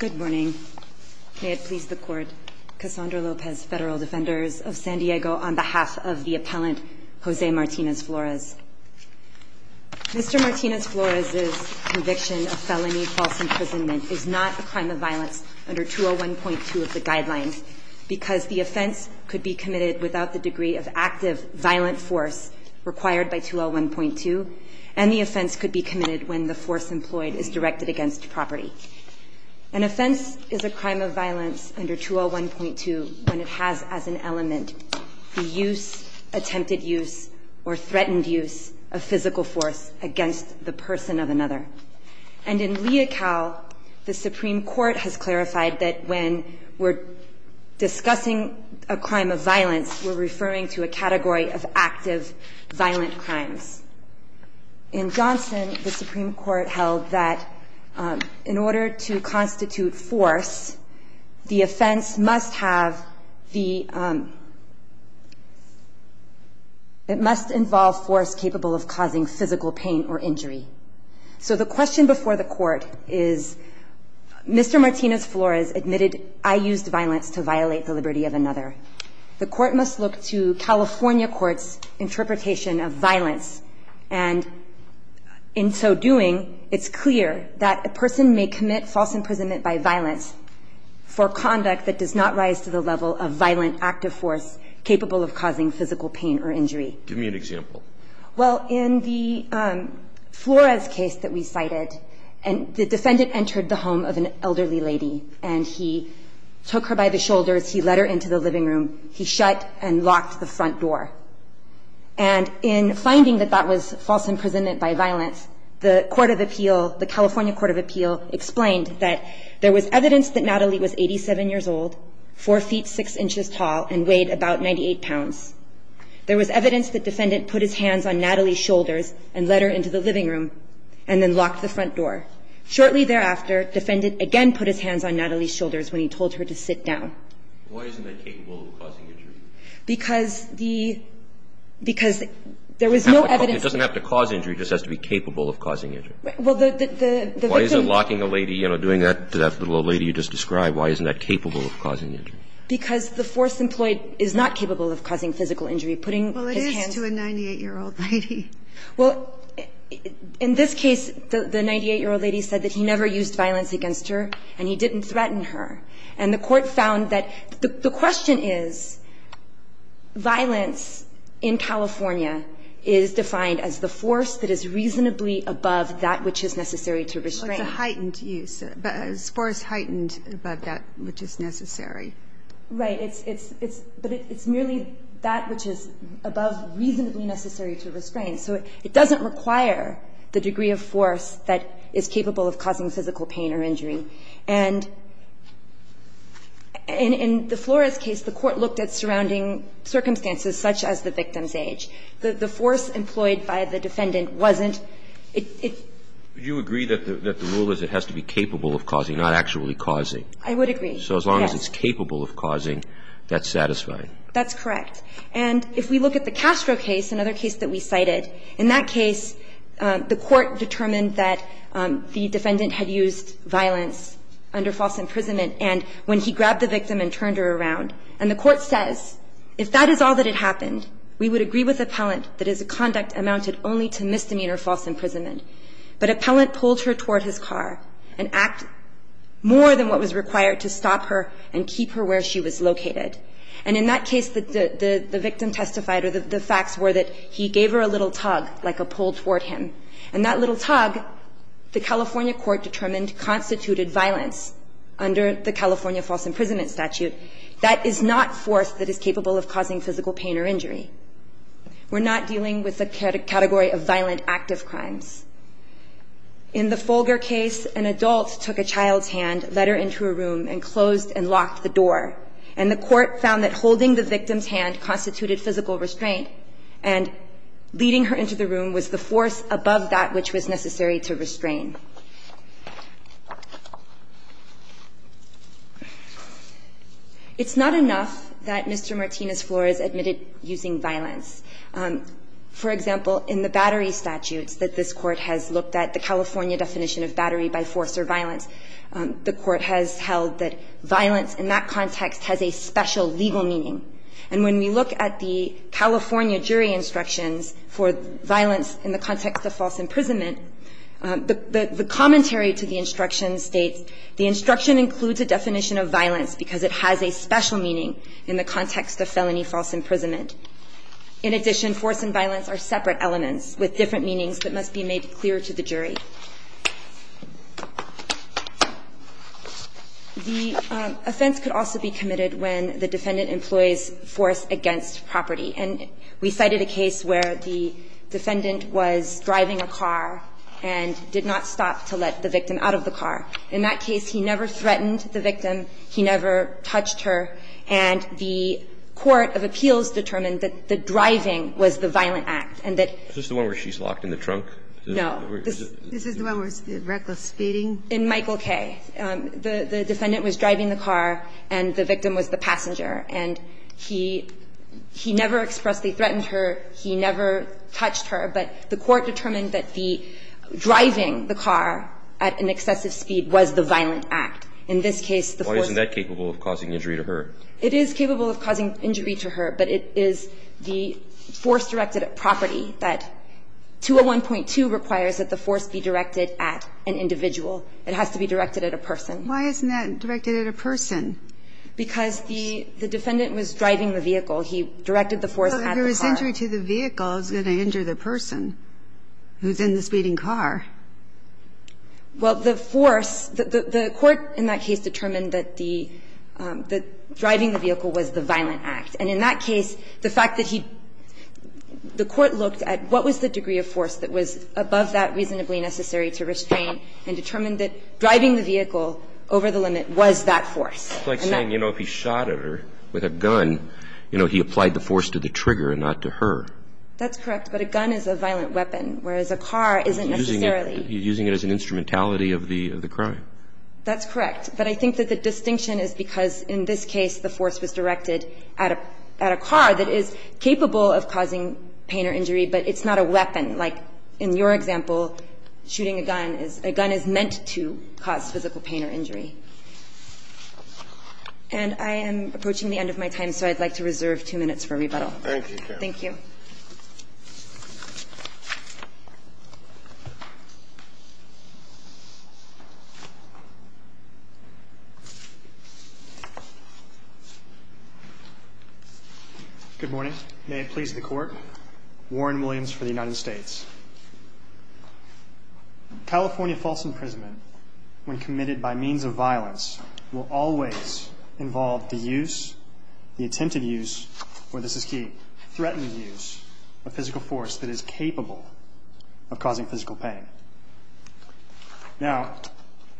Good morning. May it please the court. Cassandra Lopez, federal defenders of San Diego, on behalf of the appellant Jose Martinez-Flores. Mr. Martinez-Flores' conviction of felony false imprisonment is not a crime of violence under 201.2 of the guidelines, because the offense could be committed without the degree of active violent force required by 201.2, and the offense could be committed when the force employed is directed against property. An offense is a crime of violence under 201.2 when it has as an element the use, attempted use, or threatened use of physical force against the person of another. And in Leocal, the Supreme Court has clarified that when we're discussing a crime of violence, we're referring to a category of active violent crimes. In Johnson, the Supreme Court held that in order to constitute force, the offense must have the – it must involve force capable of causing physical pain or injury. So the question before the court is, Mr. Martinez-Flores admitted, I used violence to violate the liberty of another. The court must look to California court's interpretation of violence. And in so doing, it's clear that a person may commit false imprisonment by violence for conduct that does not rise to the level of violent active force capable of causing physical pain or injury. Give me an example. Well, in the Flores case that we cited, the defendant entered the home of an elderly lady, and he took her by the shoulders. He let her into the living room. He shut and locked the front door. And in finding that that was false imprisonment by violence, the court of appeal, the California court of appeal, explained that there was evidence that Natalie was 87 years old, 4 feet 6 inches tall, and weighed about 98 pounds. There was evidence that defendant put his hands on Natalie's shoulders and let her into the living room and then locked the front door. Shortly thereafter, defendant again put his hands on Natalie's shoulders when he told her to sit down. Why isn't that capable of causing injury? Because the – because there was no evidence. It doesn't have to cause injury. It just has to be capable of causing injury. Well, the victim – Why is it locking a lady, you know, doing that to that little lady you just described? Why isn't that capable of causing injury? Because the force employed is not capable of causing physical injury. Putting his hands – Well, it is to a 98-year-old lady. Well, in this case, the 98-year-old lady said that he never used violence against her and he didn't threaten her. And the court found that – the question is, violence in California is defined as the force that is reasonably above that which is necessary to restrain. Well, it's a heightened use. A force heightened above that which is necessary. Right. But it's merely that which is above reasonably necessary to restrain. So it doesn't require the degree of force that is capable of causing physical pain or injury. And in the Flores case, the court looked at surrounding circumstances such as the victim's age. The force employed by the defendant wasn't – it – Do you agree that the rule is it has to be capable of causing, not actually causing? I would agree, yes. So as long as it's capable of causing, that's satisfying. That's correct. And if we look at the Castro case, another case that we cited, in that case, the court determined that the defendant had used violence under false imprisonment and when he grabbed the victim and turned her around, and the court says, if that is all that had happened, we would agree with appellant that his conduct amounted only to misdemeanor false imprisonment. But appellant pulled her toward his car and acted more than what was required to stop her and keep her where she was located. And in that case, the victim testified or the facts were that he gave her a little tug, like a pull toward him. And that little tug, the California court determined, constituted violence under the California false imprisonment statute. That is not force that is capable of causing physical pain or injury. We're not dealing with a category of violent active crimes. In the Folger case, an adult took a child's hand, let her into a room, and closed and locked the door. And the court found that holding the victim's hand constituted physical restraint and leading her into the room was the force above that which was necessary to restrain. It's not enough that Mr. Martinez-Flores admitted using violence. For example, in the battery statutes that this Court has looked at, the California definition of battery by force or violence, the Court has held that violence in that context has a special legal meaning. And when we look at the California jury instructions for violence in the context of false imprisonment, the commentary to the instruction states the instruction includes a definition of violence because it has a special meaning in the context of felony false imprisonment. In addition, force and violence are separate elements with different meanings that must be made clear to the jury. The offense could also be committed when the defendant employs force against property. And we cited a case where the defendant was driving a car and did not stop to let the victim out of the car. In that case, he never threatened the victim. He never touched her. And the court of appeals determined that the driving was the violent act. And that the force was the violent act. Roberts. Is this the one where she's locked in the trunk? No. This is the one where it's reckless speeding? In Michael K., the defendant was driving the car and the victim was the passenger. And he never expressly threatened her. He never touched her. But the court determined that the driving the car at an excessive speed was the violent act. In this case, the force was the violent act. So the defendant did not threaten her. It is capable of causing injury to her, but it is the force directed at property that 201.2 requires that the force be directed at an individual. It has to be directed at a person. Why isn't that directed at a person? Because the defendant was driving the vehicle. He directed the force at the car. Well, if there was injury to the vehicle, it's going to injure the person who's in the speeding car. Well, the force, the court in that case determined that the driving the vehicle was the violent act. And in that case, the fact that he, the court looked at what was the degree of force that was above that reasonably necessary to restrain and determined that driving the vehicle over the limit was that force. It's like saying, you know, if he shot at her with a gun, you know, he applied the force to the trigger and not to her. That's correct. I'm sorry. You're using it as an instrumentality of the crime. That's correct. But I think that the distinction is because in this case the force was directed at a car that is capable of causing pain or injury, but it's not a weapon. Like in your example, shooting a gun is – a gun is meant to cause physical pain or injury. And I am approaching the end of my time, so I'd like to reserve 2 minutes for rebuttal. Thank you. Thank you. Good morning. Good morning. May it please the court. Warren Williams for the United States. California false imprisonment, when committed by means of violence, will always involve the use, the attempted use, or this is key, threatened use of physical force that is capable of causing physical pain. Now,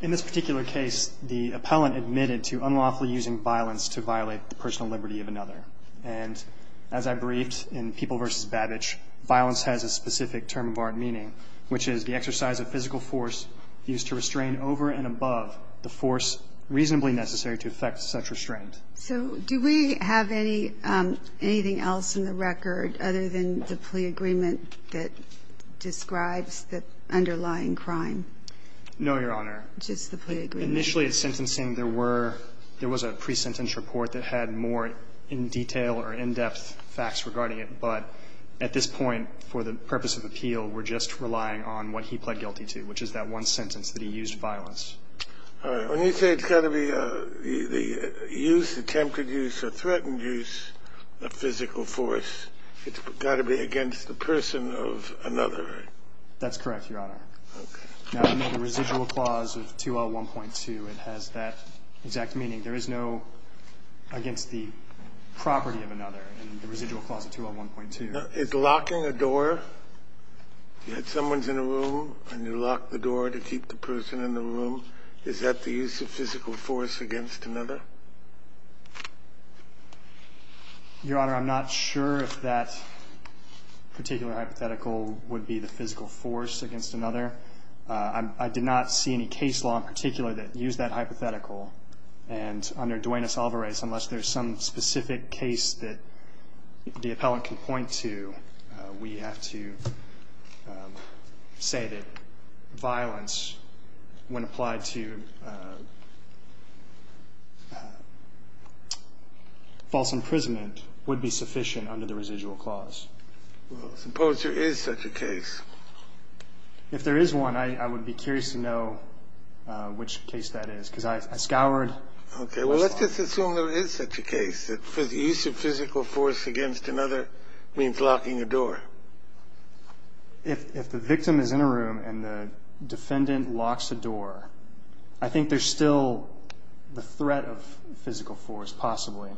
in this particular case, the appellant admitted to unlawfully using violence to violate the personal liberty of another. And as I briefed in People v. Babbage, violence has a specific term of our meaning, which is the exercise of physical force used to restrain over and above the force reasonably necessary to affect such restraint. So do we have anything else in the record other than the plea agreement that describes the underlying crime? No, Your Honor. Just the plea agreement? Initially at sentencing, there were – there was a pre-sentence report that had more in detail or in-depth facts regarding it, but at this point, for the purpose of appeal, we're just relying on what he pled guilty to, which is that one sentence that he used to use violence. All right. When you say it's got to be the use, attempted use, or threatened use of physical force, it's got to be against the person of another, right? That's correct, Your Honor. Okay. Now, in the residual clause of 2L1.2, it has that exact meaning. There is no against the property of another in the residual clause of 2L1.2. Now, is locking a door – you had someone's in a room and you lock the door to keep the person in the room, is that the use of physical force against another? Your Honor, I'm not sure if that particular hypothetical would be the physical force against another. I did not see any case law in particular that used that hypothetical, and under Duenas-Alvarez, unless there's some specific case that the appellant can point to, we have to say that violence, when applied to false imprisonment, would be sufficient under the residual clause. Well, suppose there is such a case. If there is one, I would be curious to know which case that is, because I scoured most of them. Okay. Well, let's just assume there is such a case, that the use of physical force against another means locking a door. If the victim is in a room and the defendant locks a door, I think there's still the threat of physical force, possibly.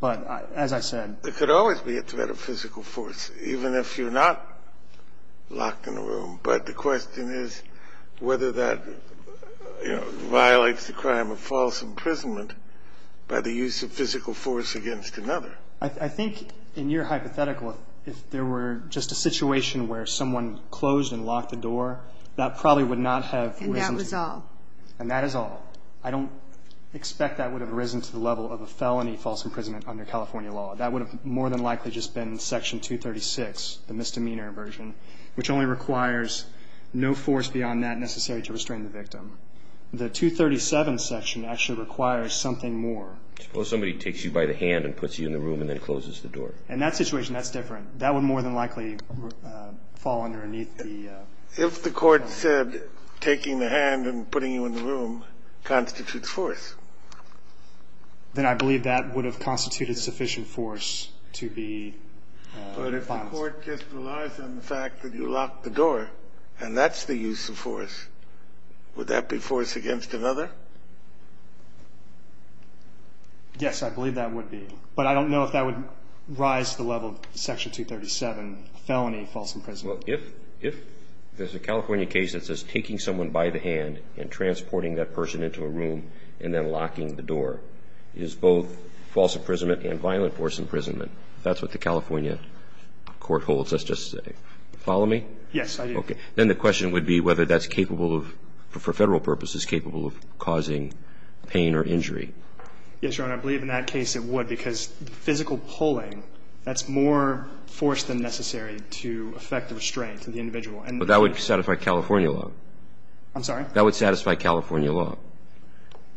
But as I said – There could always be a threat of physical force, even if you're not locked in a room. But the question is whether that, you know, violates the crime of false imprisonment by the use of physical force against another. I think, in your hypothetical, if there were just a situation where someone closed and locked a door, that probably would not have risen to – And that was all. And that is all. I don't expect that would have risen to the level of a felony false imprisonment under California law. That would have more than likely just been Section 236, the misdemeanor version, which only requires no force beyond that necessary to restrain the victim. The 237 section actually requires something more. Suppose somebody takes you by the hand and puts you in the room and then closes the door. In that situation, that's different. That would more than likely fall underneath the – If the court said taking the hand and putting you in the room constitutes force – Then I believe that would have constituted sufficient force to be – But if the court just relies on the fact that you locked the door and that's the use of force, would that be force against another? Yes, I believe that would be. But I don't know if that would rise to the level of Section 237, felony false imprisonment. Well, if there's a California case that says taking someone by the hand and transporting that person into a room and then locking the door is both false imprisonment and violent force imprisonment, if that's what the California court holds, let's just say. Follow me? Yes, I do. Okay. Then the question would be whether that's capable of – for Federal purposes capable of causing pain or injury. Yes, Your Honor. I believe in that case it would because physical pulling, that's more force than necessary to affect the restraint of the individual. But that would satisfy California law. I'm sorry? That would satisfy California law.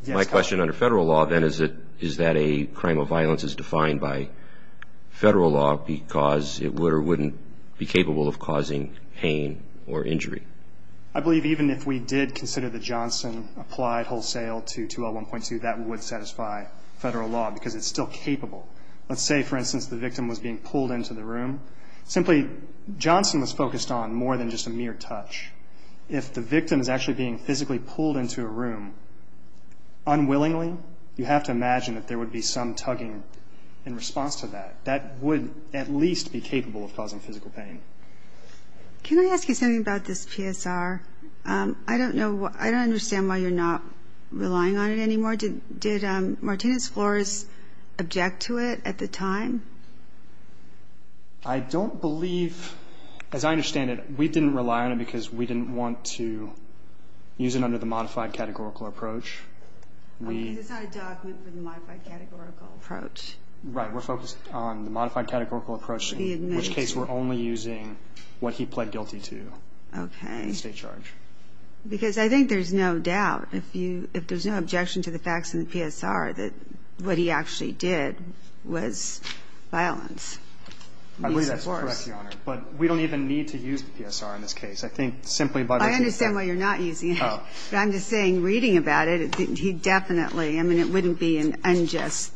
My question under Federal law then is that a crime of violence is defined by Federal law because it would or wouldn't be capable of causing pain or injury. I believe even if we did consider that Johnson applied wholesale to 2L1.2, that would satisfy Federal law because it's still capable. Let's say, for instance, the victim was being pulled into the room. Simply, Johnson was focused on more than just a mere touch. If the victim is actually being physically pulled into a room unwillingly, you have to imagine that there would be some tugging in response to that. That would at least be capable of causing physical pain. Can I ask you something about this PSR? I don't know – I don't understand why you're not relying on it anymore. Did Martinez-Flores object to it at the time? I don't believe – as I understand it, we didn't rely on it because we didn't want to use it under the modified categorical approach. Because it's not a document for the modified categorical approach. Right. We're focused on the modified categorical approach. In which case, we're only using what he pled guilty to. Okay. State charge. Because I think there's no doubt, if there's no objection to the facts in the PSR, that what he actually did was violence. I believe that's correct, Your Honor. But we don't even need to use the PSR in this case. I think simply by looking at that – I understand why you're not using it. But I'm just saying, reading about it, he definitely – I mean, it wouldn't be an unjust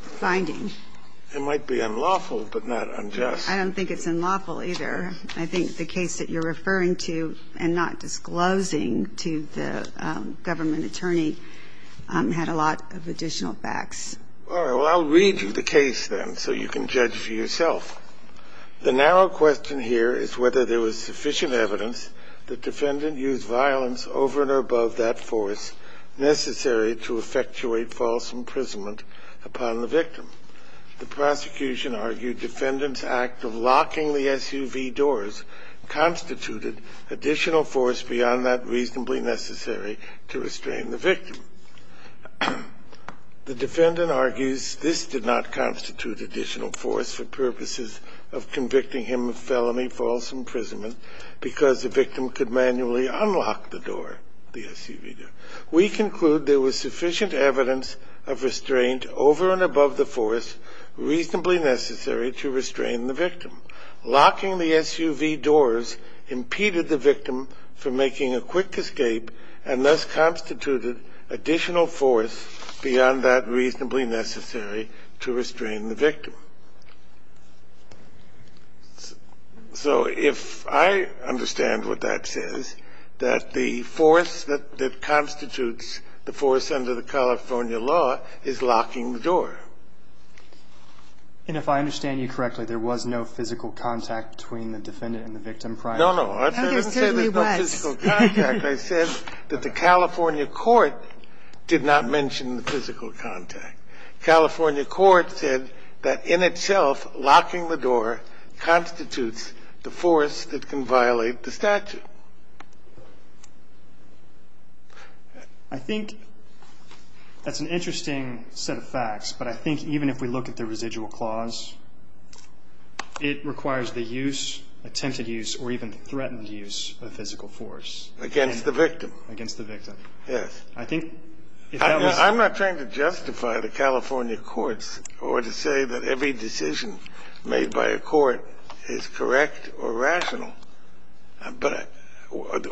finding. It might be unlawful, but not unjust. I don't think it's unlawful either. I think the case that you're referring to and not disclosing to the government attorney had a lot of additional facts. All right. Well, I'll read you the case then so you can judge for yourself. The narrow question here is whether there was sufficient evidence the defendant used violence over and above that force necessary to effectuate false imprisonment upon the victim. The prosecution argued defendant's act of locking the SUV doors constituted additional force beyond that reasonably necessary to restrain the victim. The defendant argues this did not constitute additional force for purposes of convicting him of felony false imprisonment because the victim could manually unlock the door, the SUV door. We conclude there was sufficient evidence of restraint over and above the force reasonably necessary to restrain the victim. Locking the SUV doors impeded the victim from making a quick escape and thus constituted additional force beyond that reasonably necessary to restrain the victim. So if I understand what that says, that the force that constitutes the force under the California law is locking the door. And if I understand you correctly, there was no physical contact between the defendant and the victim prior to that? No, no. I didn't say there was no physical contact. I said that the California court did not mention the physical contact. California court said that in itself locking the door constitutes the force that can violate the statute. I think that's an interesting set of facts, but I think even if we look at the residual clause, it requires the use, attempted use, or even threatened use of physical force. Against the victim. Against the victim. Yes. I think if that was. I'm not trying to justify the California courts or to say that every decision made by a court is correct or rational. But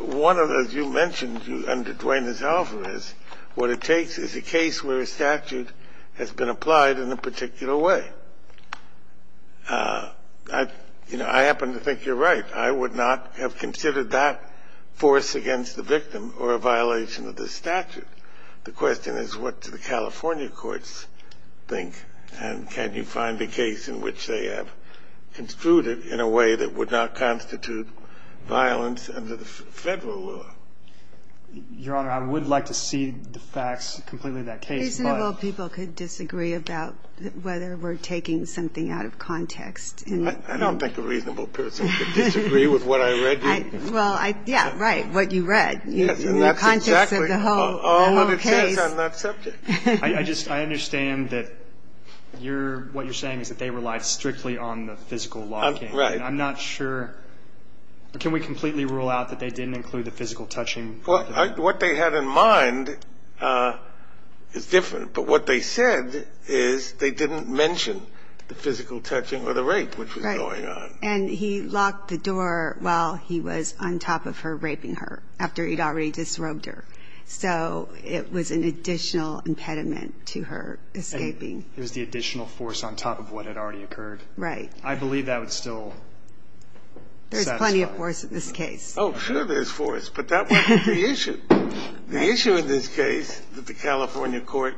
one of those you mentioned under Dwayne's alpha is what it takes is a case where a statute has been applied in a particular way. You know, I happen to think you're right. I would not have considered that force against the victim or a violation of the statute. The question is what do the California courts think, and can you find a case in which they have construed it in a way that would not constitute violence under the Federal law? Your Honor, I would like to cede the facts completely to that case, but. Reasonable people could disagree about whether we're taking something out of context. I don't think a reasonable person could disagree with what I read to you. Well, yeah, right, what you read. Yes, and that's exactly. The context of the whole case. I understand that subject. I understand that what you're saying is that they relied strictly on the physical locking. Right. And I'm not sure. Can we completely rule out that they didn't include the physical touching? Well, what they had in mind is different. But what they said is they didn't mention the physical touching or the rape which was going on. And he locked the door while he was on top of her raping her after he'd already disrobed her. So it was an additional impediment to her escaping. It was the additional force on top of what had already occurred. Right. I believe that would still satisfy. There's plenty of force in this case. Oh, sure, there's force, but that wasn't the issue. The issue in this case that the California court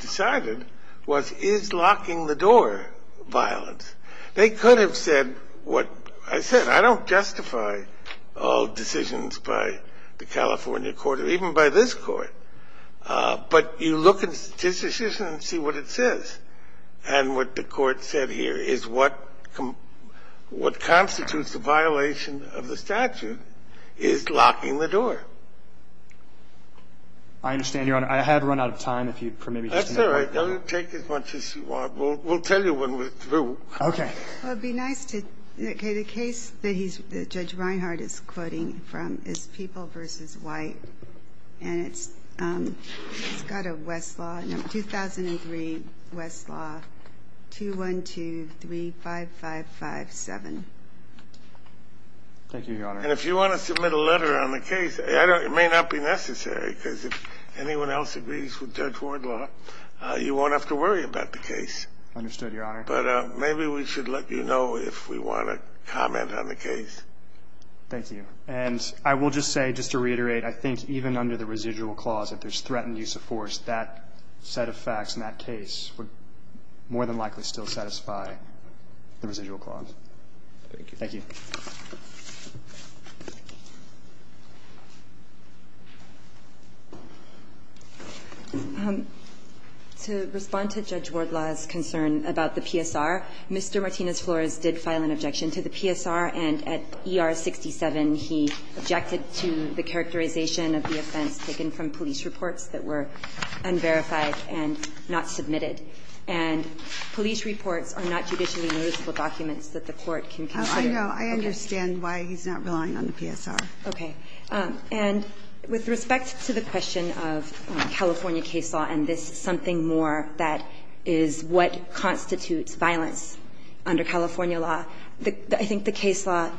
decided was is locking the door violence. They could have said what I said. I don't justify all decisions by the California court or even by this court. But you look at this decision and see what it says. And what the court said here is what constitutes a violation of the statute is locking the door. I understand, Your Honor. I have run out of time. That's all right. Take as much as you want. We'll tell you when we're through. Okay. It would be nice to. Okay, the case that Judge Reinhart is quoting from is People v. White. And it's got a Westlaw number, 2003 Westlaw 21235557. Thank you, Your Honor. And if you want to submit a letter on the case, it may not be necessary because if anyone else agrees with Judge Wardlaw, you won't have to worry about the case. Understood, Your Honor. But maybe we should let you know if we want to comment on the case. Thank you. And I will just say, just to reiterate, I think even under the residual clause, if there's threatened use of force, that set of facts in that case would more than likely still satisfy the residual clause. Thank you. Thank you. To respond to Judge Wardlaw's concern about the PSR, Mr. Martinez-Flores did file an objection to the PSR. And at ER 67, he objected to the characterization of the offense taken from police reports that were unverified and not submitted. And police reports are not judicially noticeable documents that the Court can consider. No, I understand why he's not relying on the PSR. Okay. And with respect to the question of California case law and this something more that is what constitutes violence under California law, I think the case law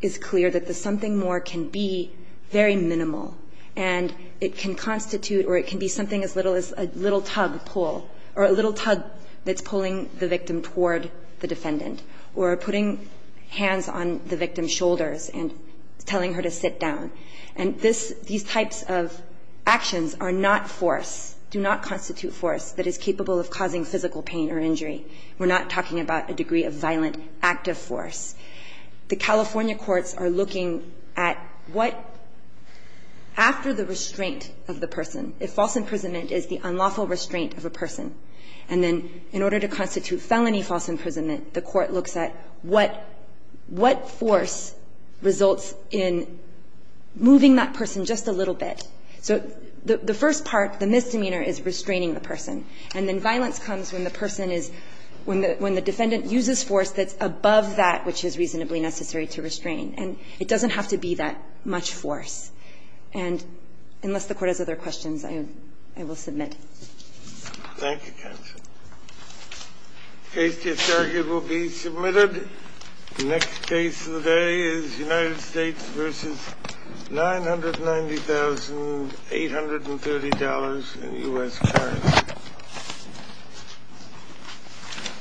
is clear that the something more can be very minimal, and it can constitute or it can be something as little as a little tug pull or a little tug that's pulling the victim toward the defendant or putting hands on the victim's shoulders and telling her to sit down. And this, these types of actions are not force, do not constitute force that is capable of causing physical pain or injury. We're not talking about a degree of violent active force. The California courts are looking at what, after the restraint of the person, if false imprisonment, the court looks at what force results in moving that person just a little bit. So the first part, the misdemeanor, is restraining the person. And then violence comes when the person is, when the defendant uses force that's above that which is reasonably necessary to restrain. And it doesn't have to be that much force. And unless the Court has other questions, I will submit. Thank you, counsel. The case to be submitted, the next case of the day is United States versus $990,830 in U.S. currency.